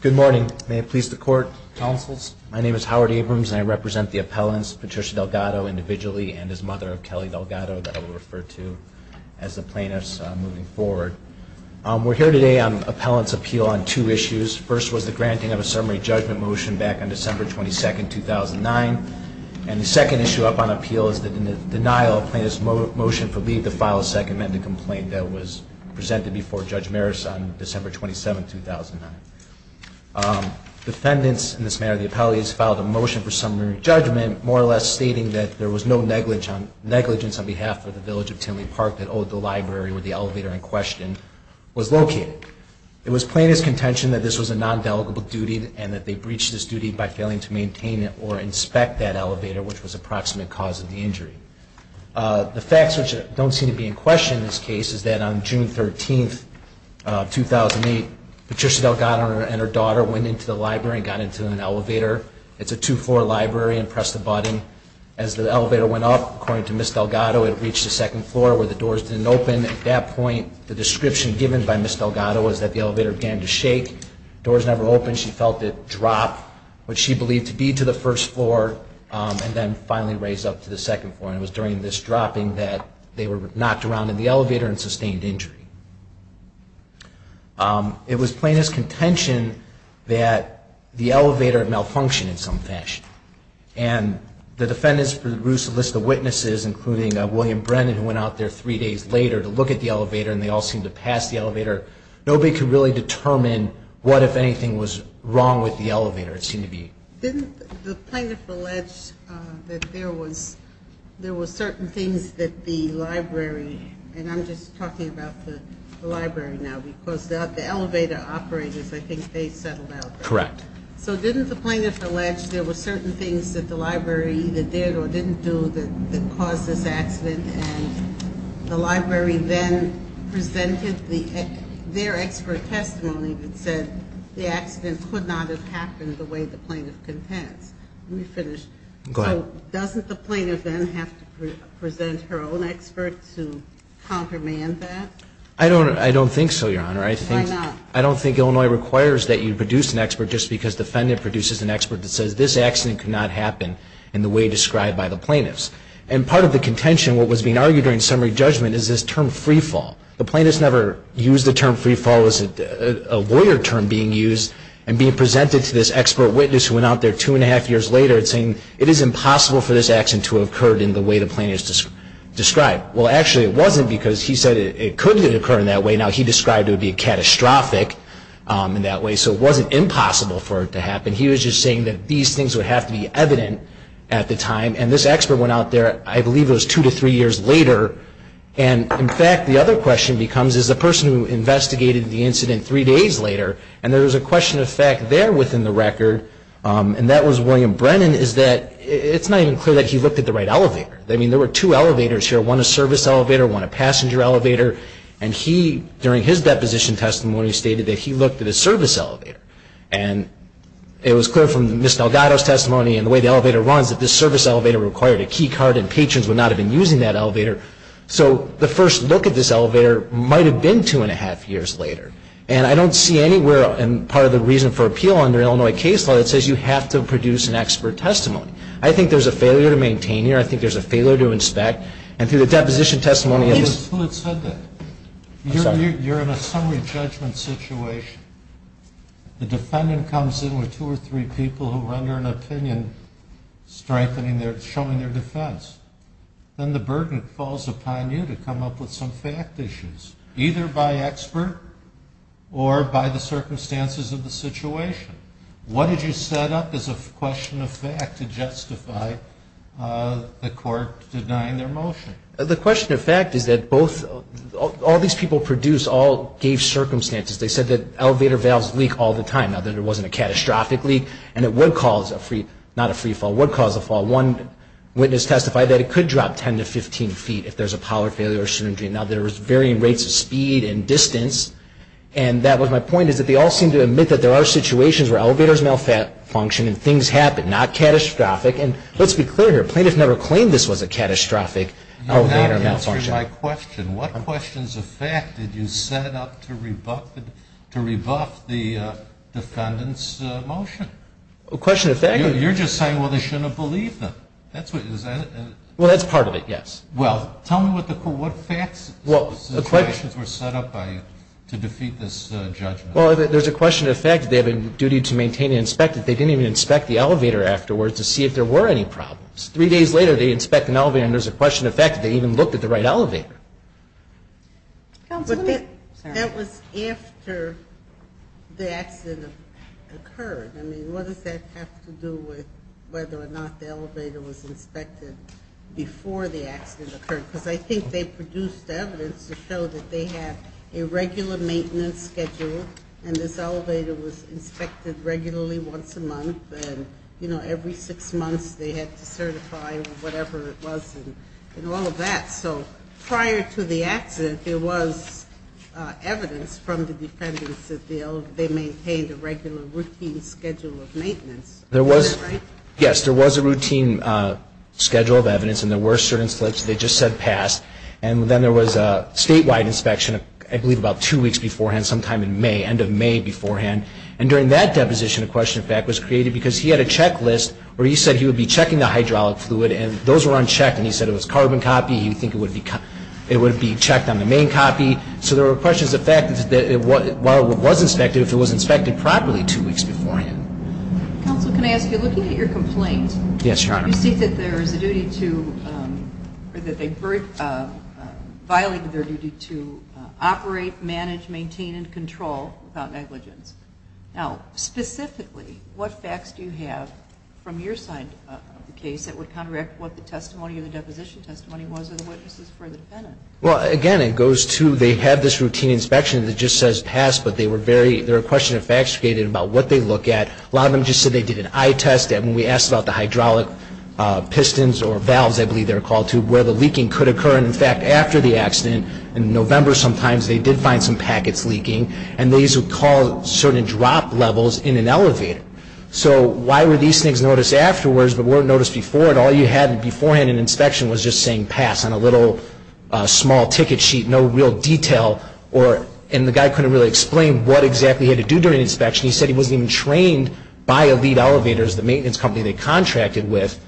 Good morning. May it please the court, counsels, my name is Howard Abrams and I represent the appellants Patricia Delgado individually and his mother Kelly Delgado that I will refer to as the plaintiffs moving forward. We're here today on appellants appeal on two issues. First was the granting of a summary judgment motion back on December 22, 2009 and the second issue up on appeal is the denial of plaintiff's motion for leave to file a second amended complaint that was presented before Judge Maris on December 27, 2009. Defendants in this matter of the appellate filed a motion for summary judgment more or less stating that there was no negligence on behalf of the Village of Tinley Park that owed the library where the elevator in question was located. It was plaintiff's contention that this was a non-delegable duty and that they breached this duty by failing to maintain it or inspect that elevator which was approximate cause of the injury. The facts which don't seem to be in question in this case is that on June 13, 2008, Patricia Delgado and her daughter went into the library and got into an elevator. It's a two-floor library and pressed the button. As the elevator went up, according to Ms. Delgado, it reached the second floor where the doors didn't open. At that point, the description given by Ms. Delgado was that the elevator began to shake. Doors never opened. She felt it drop what she believed to be to the first floor and then finally raise up to the second floor. And it was during this dropping that they were knocked around in the elevator and sustained injury. It was plaintiff's contention that the elevator malfunctioned in some fashion. And the defendants produced a list of witnesses, including William Brennan, who went out there three days later to look at the elevator and they all seemed to pass the elevator. Nobody could really determine what, if anything, was wrong with the elevator. It seemed to be... Didn't the plaintiff allege that there was certain things that the library, and I'm just talking about the library now because the elevator operators, I think they settled out there. Correct. So didn't the plaintiff allege there were certain things that the library either did or didn't do that caused this accident and the library then presented their expert testimony that said the accident could not have happened the way the plaintiff contends. Let me finish. Go ahead. So doesn't the plaintiff then have to present her own expert to countermand that? I don't think so, Your Honor. Why not? I don't think Illinois requires that you produce an expert just because the defendant produces an expert that says this accident could not happen in the way described by the plaintiffs. And part of the contention, what was being argued during summary judgment, is this term freefall. The plaintiffs never used the term freefall. It was a lawyer term being used and being presented to this expert witness who went out there two and a half years later and saying it is impossible for this accident to have occurred in the way the plaintiffs described. Well, actually it wasn't because he said it couldn't have occurred in that way. Now he described it would be catastrophic in that way. So it wasn't impossible for it to happen. He was just saying that these things would have to be evident at the time. And this expert went out there, I believe it was two to three years later. And, in fact, the other question becomes, is the person who investigated the incident three days later and there was a question of fact there within the record, and that was William Brennan, is that it's not even clear that he looked at the right elevator. I mean, there were two elevators here, one a service elevator, one a passenger elevator. And he, during his deposition testimony, stated that he looked at a service elevator. And it was clear from Ms. Delgado's testimony and the way the elevator runs that this service elevator required a key card and patrons would not have been using that elevator. So the first look at this elevator might have been two and a half years later. And I don't see anywhere in part of the reason for appeal under Illinois case law that says you have to produce an expert testimony. I think there's a failure to inspect. And through the deposition testimony of Ms. Who had said that? I'm sorry. You're in a summary judgment situation. The defendant comes in with two or three people who render an opinion strengthening their, showing their defense. Then the burden falls upon you to come up with some fact issues, either by expert or by the circumstances of the situation. What did you set up as a question of fact to justify the court denying their motion? The question of fact is that both, all these people produced all gave circumstances. They said that elevator valves leak all the time. Now, that it wasn't a catastrophic leak and it would cause a free, not a free fall, would cause a fall. One witness testified that it could drop 10 to 15 feet if there's a power failure or syndrome. Now, there was varying rates of speed and distance. And that was my point is that they all seemed to admit that there are situations where elevators malfunction and things happen, not catastrophic. And let's be clear here. Plaintiffs never claimed this was a catastrophic elevator malfunction. You're not answering my question. What questions of fact did you set up to rebuff the defendant's motion? The question of fact is... You're just saying, well, they shouldn't have believed them. That's what, is that a... Well, that's part of it, yes. Well, tell me what facts, what situations were set up by you to defeat this judgment? Well, there's a question of fact. They have a duty to maintain and inspect it. They didn't even inspect the elevator afterwards to see if there were any problems. Three days later they inspect an elevator and there's a question of fact that they even looked at the right elevator. But that was after the accident occurred. I mean, what does that have to do with whether or not the elevator was inspected before the accident occurred? Because I think they produced evidence to show that they had a regular maintenance schedule and this elevator was inspected regularly once a month and, you know, every six months they had to certify whatever it was and all of that. So prior to the accident there was evidence from the defendants that they maintained a regular routine schedule of maintenance. There was... Is that right? Yes, there was a routine schedule of evidence and there were certain slips they just said to pass. And then there was a statewide inspection, I believe about two weeks beforehand, sometime in May, end of May beforehand. And during that deposition a question of fact was created because he had a checklist where he said he would be checking the hydraulic fluid and those were unchecked and he said it was carbon copy, he would think it would be checked on the main copy. So there were questions of fact that while it was inspected, if it was inspected properly two weeks beforehand. Counsel, can I ask, you're looking at your complaint. Yes, Your Honor. You state that there is a duty to, or that they violate their duty to operate, manage, maintain, and control without negligence. Now, specifically, what facts do you have from your side of the case that would counteract what the testimony or the deposition testimony was of the witnesses for the defendant? Well, again, it goes to they had this routine inspection that just says pass, but they were very, there were a question of facts created about what they look at. A lot of them just said they did an eye test and when we asked about the hydraulic pistons or valves, I believe they were called to, where the leaking could occur. And in fact, after the accident, in November sometimes, they did find some packets leaking and these would cause certain drop levels in an elevator. So why were these things noticed afterwards but weren't noticed before and all you had beforehand in inspection was just saying pass on a little small ticket sheet, no real detail, and the guy couldn't really explain what exactly he had to do during the inspection. He said he wasn't even trained by Elite Elevators, the maintenance company they contracted with,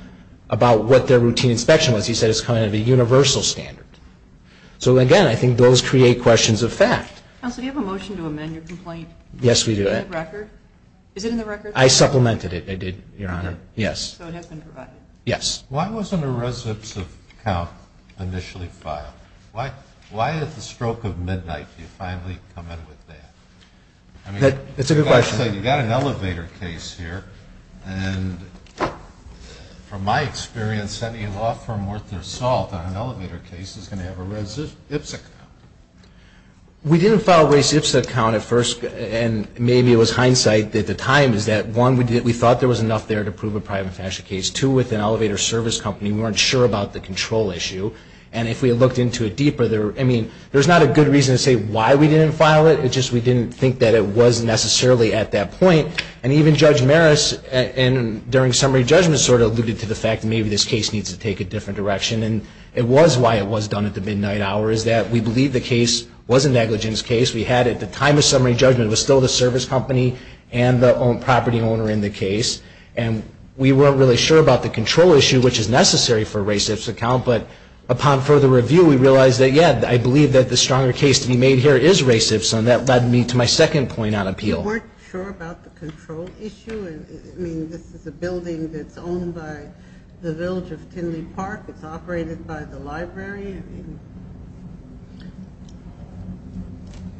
about what their routine inspection was. He said it's kind of a universal standard. So again, I think those create questions of fact. Counsel, do you have a motion to amend your complaint? Yes, we do. Is it in the record? I supplemented it, I did, Your Honor. Yes. So it has been provided? Yes. Why wasn't a residence of count initially filed? Why at the stroke of midnight do you finally come in with that? That's a good question. You've got an elevator case here and from my experience, any law firm worth their salt on an elevator case is going to have a residence of count. We didn't file residence of count at first and maybe it was hindsight at the time is that one, we thought there was enough there to prove a private fashion case. Two, with an elevator service company, we weren't sure about the control issue and if we had looked into it deeper, I mean, there's not a good reason to say why we didn't file it, it's just we didn't think that it was necessarily at that point and even Judge Maris during summary judgment sort of alluded to the fact that maybe this case needs to take a different direction and it was why it was done at the midnight hour is that we believe the case was a negligence case. We had at the time of summary judgment, it was still the service company and the property owner in the case and we weren't really sure about the control issue, which is necessary for residence of count, but upon further review, we realized that, yes, I believe that the stronger case to be made here is racist and that led me to my second point on appeal. You weren't sure about the control issue? I mean, this is a building that's owned by the village of Tinley Park, it's operated by the library?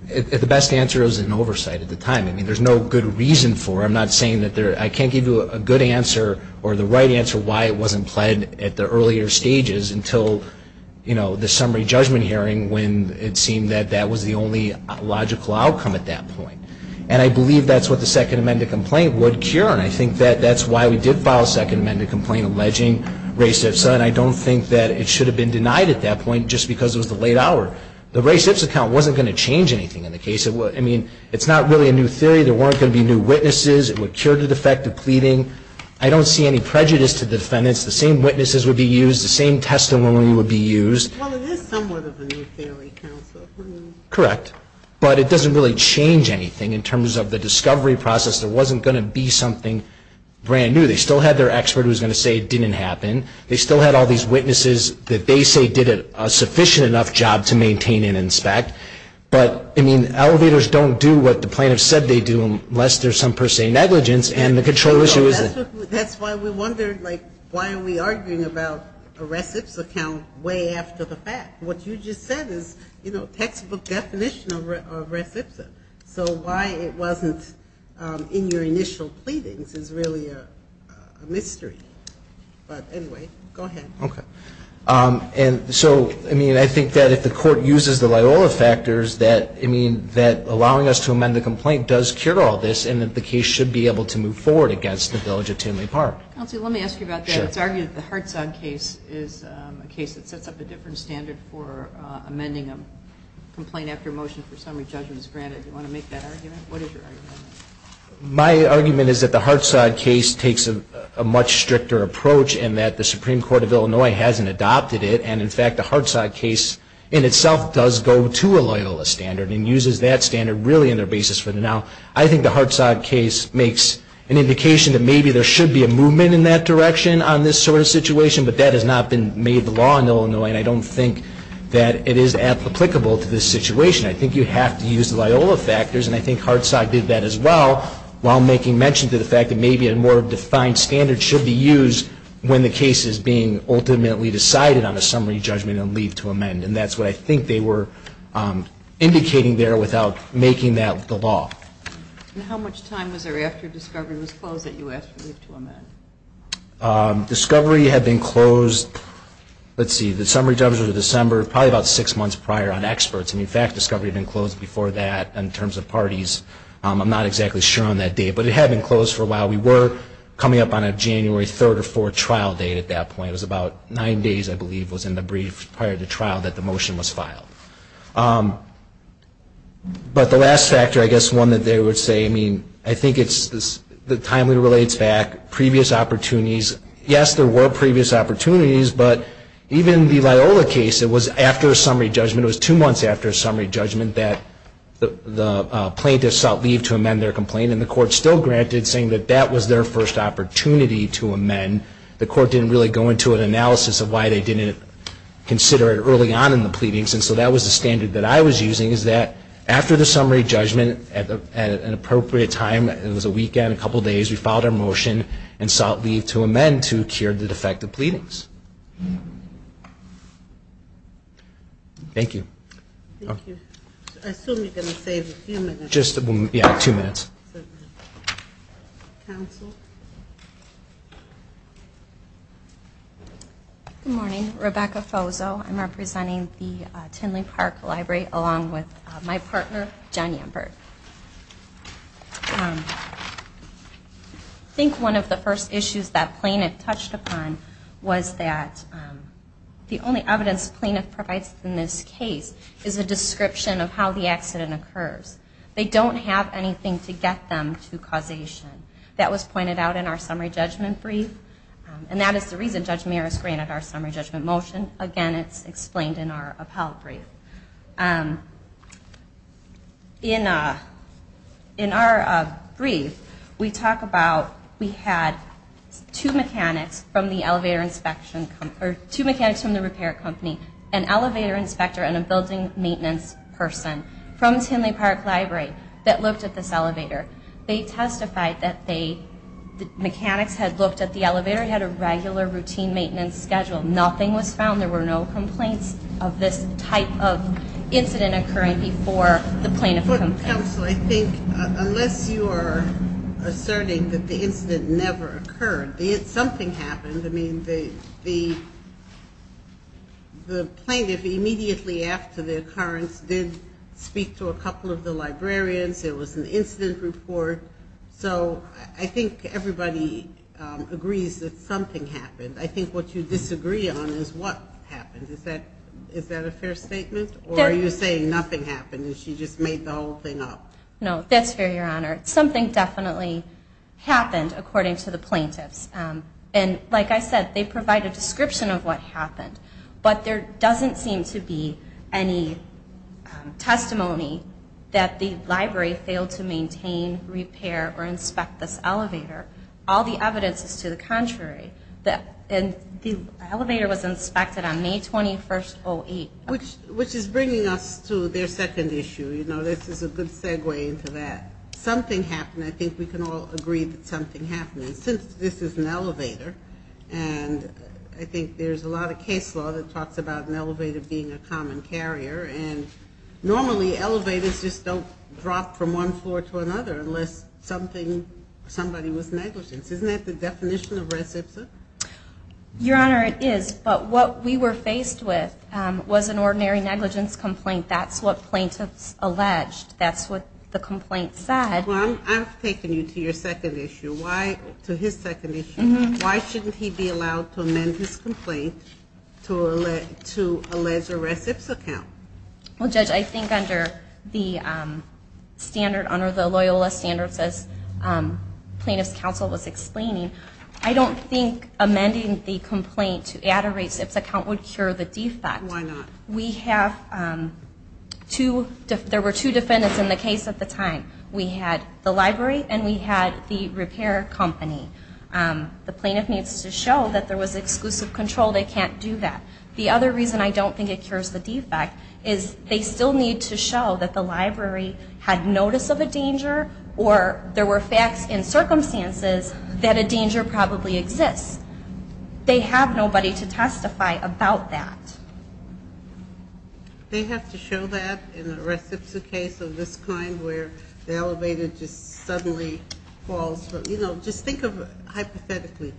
The best answer is an oversight at the time. I mean, there's no good reason for it. I'm not saying that there, I can't give you a good answer or the right answer why it wasn't pled at the earlier stages until, you know, the summary judgment hearing when it seemed that that was the only logical outcome at that point. And I believe that's what the second amended complaint would cure and I think that that's why we did file a second amended complaint alleging racist and I don't think that it should have been denied at that point just because it was the late hour. The racist account wasn't going to change anything in the case. I mean, it's not really a new theory, there weren't going to be new witnesses, it would cure the defective pleading. I don't see any prejudice to the defendants, the same witnesses would be used, the same testimony would be used. Well, it is somewhat of a new theory, counsel. Correct. But it doesn't really change anything in terms of the discovery process. There wasn't going to be something brand new. They still had their expert who was going to say it didn't happen. They still had all these witnesses that they say did a sufficient enough job to maintain and inspect. But, I mean, elevators don't do what the plaintiffs said they do unless there's some per se negligence and the control issue is that. That's why we wondered, like, why are we arguing about a res ipsa count way after the fact? What you just said is, you know, textbook definition of res ipsa. So why it wasn't in your initial pleadings is really a mystery. But anyway, go ahead. Okay. And so, I mean, I think that if the court uses the Loyola factors that allowing us to amend the complaint does cure all this and that the case should be able to move forward against the village of Tinley Park. Counsel, let me ask you about that. It's argued that the Hartsog case is a case that sets up a different standard for amending a complaint after a motion for summary judgment is granted. Do you want to make that argument? What is your argument? My argument is that the Hartsog case takes a much stricter approach and that the Supreme Court of Illinois hasn't adopted it. And, in fact, the Hartsog case in itself does go to a Loyola standard and uses that standard really in their basis for the now. I think the Hartsog case makes an indication that maybe there should be a movement in that direction on this sort of situation. But that has not been made law in Illinois. And I don't think that it is applicable to this situation. I think you have to use the Loyola factors. And I think Hartsog did that as well while making mention to the fact that maybe a more defined standard should be used when the case is being ultimately decided on a summary judgment and leave to amend. And that's what I think they were indicating there without making that the law. And how much time was there after discovery was closed that you asked for leave to amend? Discovery had been closed, let's see, the summary judgment was in December, probably about six months prior on experts. And, in fact, discovery had been closed before that in terms of parties. I'm not exactly sure on that date. But it had been closed for a while. We were coming up on a January 3rd or 4th trial date at that point. It was about nine days, I believe, was in the brief prior to trial that the motion was filed. But the last factor, I guess one that they would say, I mean, I think it's the timely relates back, previous opportunities. Yes, there were previous opportunities. But even the Loyola case, it was after a summary judgment, it was two months after a summary judgment that the plaintiff sought leave to amend their complaint. And the court still granted saying that that was their first opportunity to amend. The court didn't really go into an analysis of why they didn't consider it early on in the pleadings. And so that was the standard that I was using, is that after the summary judgment at an appropriate time, it was a weekend, a couple of days, we filed our motion and sought leave to amend to cure the defective pleadings. Thank you. Thank you. I assume you're going to save a few minutes. Two minutes. Good morning. Rebecca Fozo. I'm representing the Tinley Park Library along with my partner, John Yambert. I think one of the first issues that plaintiff touched upon was that the only evidence plaintiff provides in this case is a description of how the accident occurs. They don't have anything to get them to causation. That was pointed out in our summary judgment brief. And that is the reason Judge Meares granted our summary judgment motion. Again, it's explained in our appellate brief. In our brief, we talk about we had two mechanics from the elevator inspection or two mechanics from the repair company, an elevator inspector and a building maintenance person from Tinley Park Library that looked at this elevator. They testified that the mechanics had looked at the elevator, had a regular routine maintenance schedule. Nothing was found. There were no complaints of this type of incident occurring before the plaintiff complained. Counsel, I think unless you are asserting that the incident never occurred, something happened. I mean, the plaintiff immediately after the occurrence did speak to a couple of the librarians. There was an incident report. So I think everybody agrees that something happened. I think what you disagree on is what happened. Is that a fair statement? Or are you saying nothing happened and she just made the whole thing up? No, that's fair, Your Honor. Something definitely happened, according to the plaintiffs. And like I said, they provide a description of what happened. But there doesn't seem to be any testimony that the library failed to maintain, repair or inspect this elevator. All the evidence is to the contrary. And the elevator was inspected on May 21st, 08. Which is bringing us to their second issue. You know, this is a good segue into that. Something happened. I think we can all agree that something happened. And since this is an elevator, and I think there's a lot of case law that talks about an elevator being a common carrier. And normally elevators just don't drop from one floor to another unless somebody was negligent. Isn't that the definition of res ipsa? Your Honor, it is. But what we were faced with was an ordinary negligence complaint. That's what plaintiffs alleged. That's what the complaint said. Well, I'm taking you to your second issue. To his second issue. Why shouldn't he be allowed to amend his complaint to allege a res ipsa count? Well, Judge, I think under the standard, under the Loyola standards, as plaintiff's counsel was explaining, I don't think amending the complaint to add a res ipsa count would cure the defect. Why not? We have two, there were two defendants in the case at the time. We had the library and we had the repair company. The plaintiff needs to show that there was exclusive control. They can't do that. The other reason I don't think it cures the defect is they still need to show that the library had notice of a danger or there were facts and circumstances that a danger probably exists. They have nobody to testify about that. They have to show that in a res ipsa case of this kind where the elevator just suddenly falls. You know, just think of it hypothetically.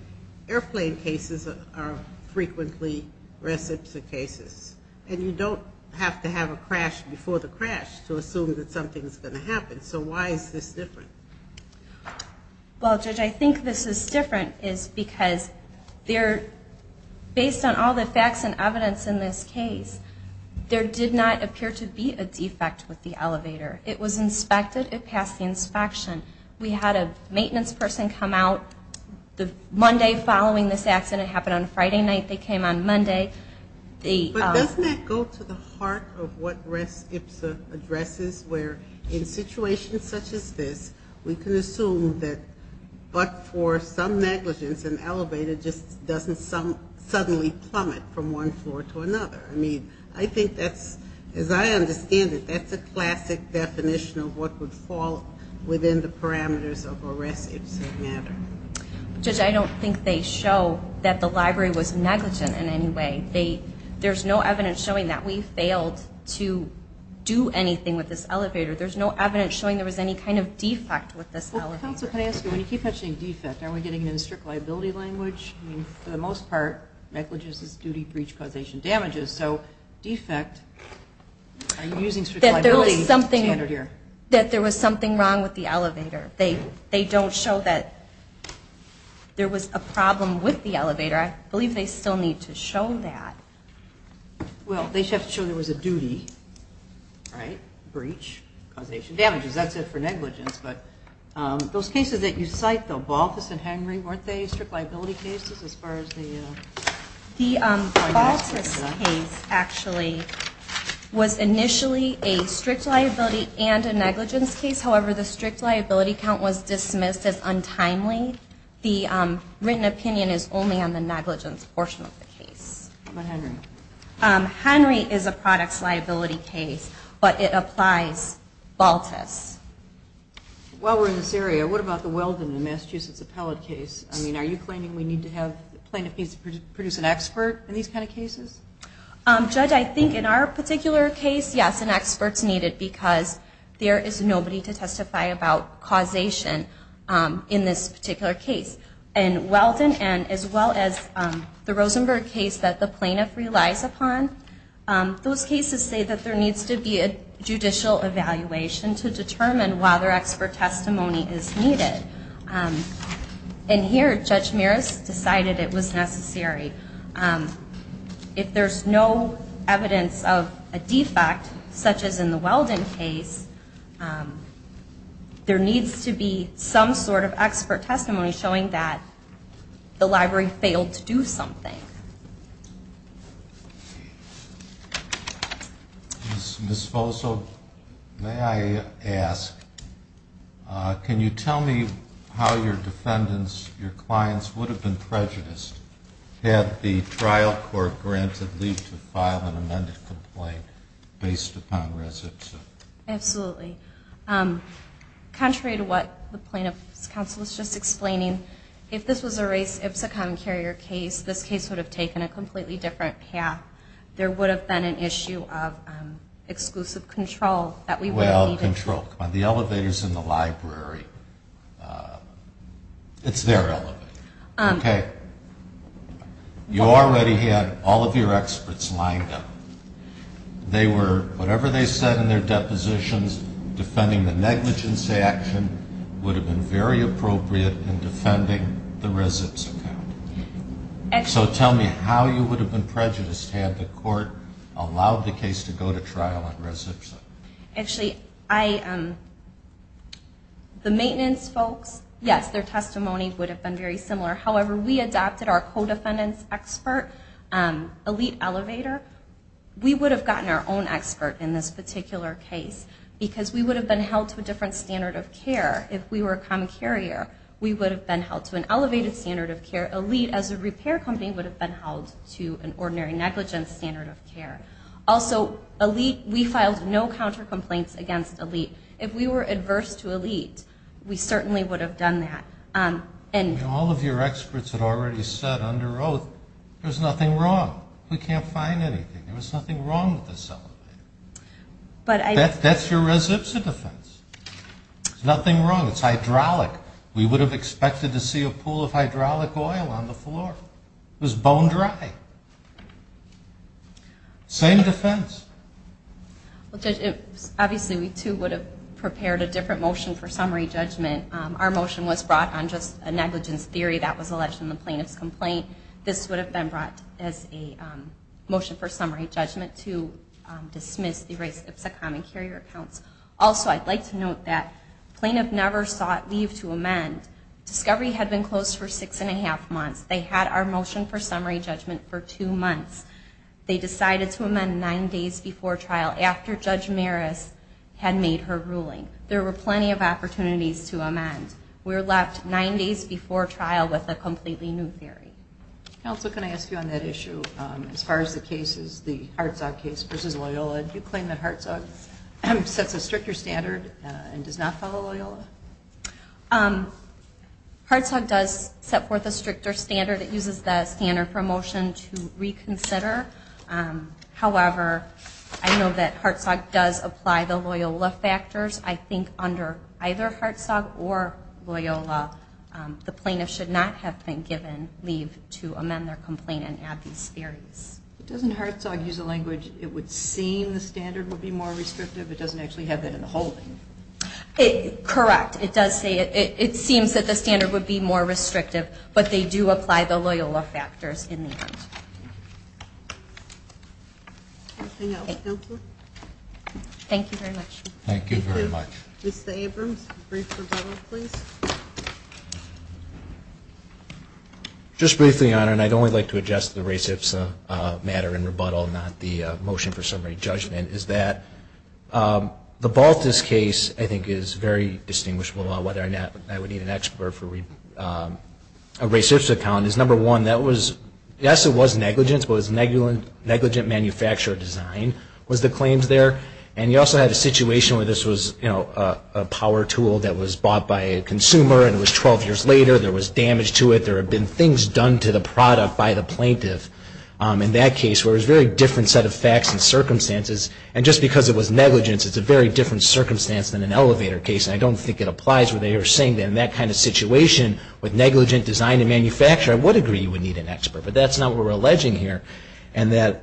Airplane cases are frequently res ipsa cases. And you don't have to have a crash before the crash to assume that something's going to happen. So why is this different? Well, Judge, I think this is different is because based on all the facts and evidence in this case, there did not appear to be a defect with the elevator. It was inspected. It passed the inspection. We had a maintenance person come out. The Monday following this accident happened on Friday night. They came on Monday. But doesn't that go to the heart of what res ipsa addresses where in situations such as this, we can assume that but for some negligence an elevator just doesn't suddenly plummet from one floor to another. I mean, I think that's, as I understand it, that's a classic definition of what would fall within the parameters of a res ipsa matter. Judge, I don't think they show that the library was negligent in any way. There's no evidence showing that we failed to do anything with this elevator. There's no evidence showing there was any kind of defect with this elevator. Well, counsel, can I ask you, when you keep mentioning defect, are we getting into the strict liability language? I mean, for the most part, negligence is duty, breach, causation, damages. So defect, are you using strict liability standard here? That there was something wrong with the elevator. They don't show that there was a problem with the elevator. I believe they still need to show that. Well, they have to show there was a duty, right? Breach, causation, damages. That's it for negligence. But those cases that you cite, though, Balthus and Henry, weren't they strict liability cases as far as the financing? The Balthus case actually was initially a strict liability and a negligence case. However, the strict liability count was dismissed as written opinion is only on the negligence portion of the case. What about Henry? Henry is a products liability case, but it applies Balthus. While we're in this area, what about the Weldon and Massachusetts Appellate case? I mean, are you claiming we need to have plaintiff needs to produce an expert in these kind of cases? Judge, I think in our particular case, yes, an expert's needed because there is nobody to testify about causation in this particular case. And in the Weldon and as well as the Rosenberg case that the plaintiff relies upon, those cases say that there needs to be a judicial evaluation to determine why their expert testimony is needed. And here Judge Meris decided it was necessary. If there's no evidence of a defect, such as in the Weldon case, there needs to be some sort of evidence that the library failed to do something. Ms. Folso, may I ask, can you tell me how your defendants, your clients would have been prejudiced had the trial court granted leave to file an amended complaint based upon recidivism? Absolutely. Contrary to what the plaintiff's counsel was just saying, if we were to raise Ipsicom Carrier case, this case would have taken a completely different path. There would have been an issue of exclusive control that we would have needed. Well, control. The elevators in the library, it's their elevator. Okay. You already had all of your experts lined up. They were, whatever they said in their depositions, defending the negligence action would have been very appropriate in defending the recidivism. So tell me how you would have been prejudiced had the court allowed the case to go to trial on recidivism? Actually, the maintenance folks, yes, their testimony would have been very similar. However, we adopted our co-defendant's expert, Elite Elevator. We would have gotten our own expert in this particular case because we would have been held to a different standard of care if we were a common carrier. We would have been held to an elevated standard of care. Elite, as a repair company, would have been held to an ordinary negligence standard of care. Also, Elite, we filed no counter complaints against Elite. If we were adverse to Elite, we certainly would have done that. All of your experts had already said under oath, there's nothing wrong. We can't find anything. There was nothing wrong with this elevator. That's your recidivism defense. There's nothing wrong. It's hydraulic. We would have expected to see a pool of hydraulic oil on the floor. It was bone dry. Same defense. Obviously, we too would have prepared a different motion for summary judgment. Our motion was brought on just a negligence theory that was alleged in the plaintiff's complaint. This would have been brought as a motion for summary judgment to dismiss the race Ipsicom and carrier accounts. Also, I'd like to note that the plaintiff never sought leave to amend. Discovery had been closed for six and a half months. They had our motion for summary judgment for two months. They decided to amend nine days before trial after Judge Maris had made her ruling. There were plenty of opportunities to amend. We were left nine days before trial with a completely new theory. Counsel, can I ask you on that issue? As far as the cases, the Herzog case versus Loyola, do you claim that Herzog sets a stricter standard and does not follow Loyola? Herzog does set forth a stricter standard. It uses the standard for a motion to reconsider. However, I know that Herzog does apply the Loyola factors. I think under either Herzog or Loyola, the plaintiff should not have been given leave to amend their complaint and add these theories. Doesn't Herzog use a language, it would seem the standard would be more restrictive? It doesn't actually have that in the whole thing. Correct. It does say it. It seems that the standard would be more restrictive, but they do apply the Loyola factors in the end. Anything else, Counselor? Thank you very much. Just briefly, Your Honor, and I'd only like to address the race-IPSA matter in rebuttal, not the motion for summary judgment, is that the Baltus case I think is very distinguishable, whether or not I would need an expert for a race-IPSA account, is number one, that was, yes, it was negligence, but it was negligent manufacturer design was the claim there. And you also had a situation where this was a power tool that was bought by a consumer and it was 12 years later, there was damage to it, there had been things done to the product by the plaintiff in that case where it was a very different set of facts and circumstances, and just because it was negligence, it's a very different circumstance than an elevator case, and I don't think it applies where they are saying that in that kind of situation with negligent design and manufacture, I would agree you would need an expert, but that's not what we're alleging here, and that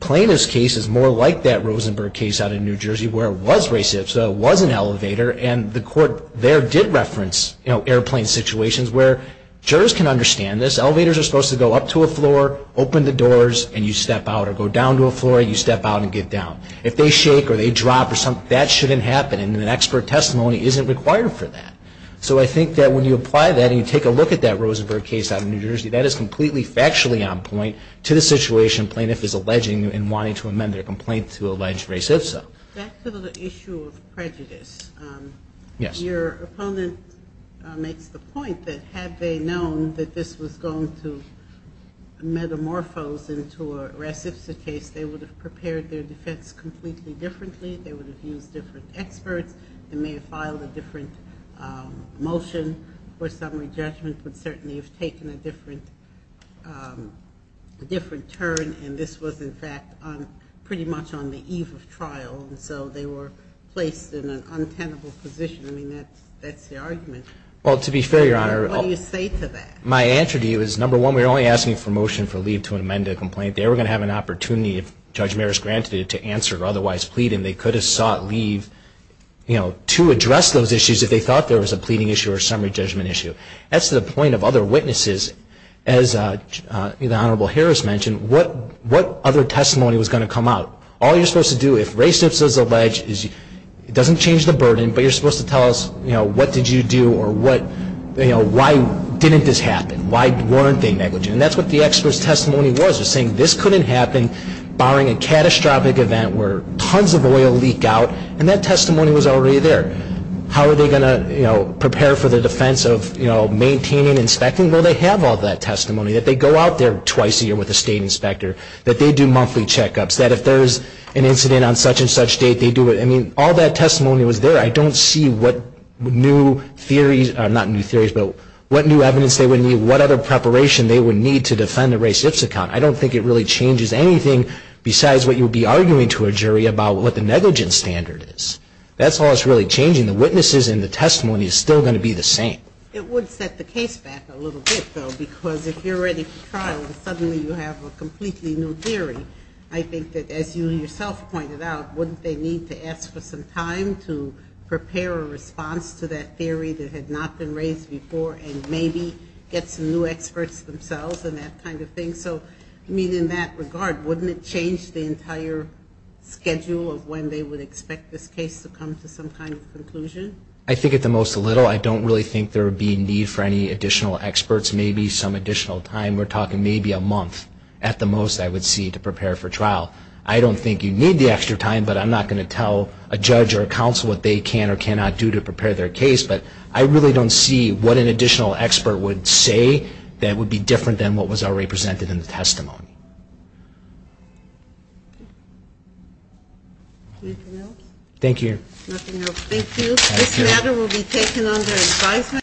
plaintiff's case is more like that Rosenberg case out in New Jersey where it was race-IPSA, it was an elevator, and the court there did reference airplane situations where jurors can understand this, elevators are supposed to go up to a floor, open the doors, and you step out or go down to a floor and you step out and get down. If they shake or they drop or something, that shouldn't happen and an expert testimony isn't required for that. So I think that when you apply that and you take a look at that Rosenberg case out in New Jersey, that is completely factually on point to the situation plaintiff is alleging and wanting to amend their complaint to allege race-IPSA. Back to the issue of prejudice, your opponent makes the point that had they known that this was going to metamorphose into a race-IPSA case, they would have prepared their defense completely differently, they would have used different experts, they may have filed a different motion for summary judgment, would certainly have taken a different turn, and this was, in fact, pretty much on the eve of trial, and so they were placed in an untenable position. I mean, that's the argument. Well, to be fair, Your Honor, my answer to you is, number one, we were only asking for motion for leave to amend a complaint. They were going to have an opportunity, if Judge Maris granted it, to answer or otherwise plead, and they could have sought leave to address those issues if they thought there was a pleading issue or a summary judgment issue. That's the point of other witnesses. As the Honorable Harris mentioned, what other testimony was going to come out? All you're supposed to do, if race-IPSA is alleged, it doesn't change the burden, but you're supposed to tell us, you know, what did you do or why didn't this happen? Why weren't they negligent? And that's what the expert's testimony was, was saying this couldn't happen, barring a catastrophic event where tons of oil leaked out, and that testimony was already there. How are they going to, you know, prepare for the defense of, you know, maintaining, inspecting? Well, they have all that testimony, that they go out there twice a year with a state inspector, that they do monthly checkups, that if there's an incident on such and such date, they do it. I mean, all that testimony was there. I don't see what new theories, not new theories, but what new evidence they would need, what other preparation they would need to defend the race-IPSA count. I don't think it really changes anything besides what you would be arguing to a jury about what the negligence standard is. That's all that's really changing. The witnesses and the testimony is still going to be the same. It would set the case back a little bit, though, because if you're ready for trial and suddenly you have a completely new theory, I think that, as you yourself pointed out, wouldn't they need to ask for some time to prepare a response to that theory that had not been raised before and maybe get some new experts themselves and that kind of thing? So, I mean, in that regard, wouldn't it change the entire schedule of when they would expect this case to come to some kind of conclusion? I think at the most a little. I don't really think there would be need for any additional experts, maybe some additional time. We're talking maybe a month at the most I would see to prepare for trial. I don't think you need the extra time, but I'm not going to tell a judge or a counsel what they can or cannot do to say that would be different than what was already presented in the testimony. Anything else? Thank you. Thank you. This matter will be taken under advisement.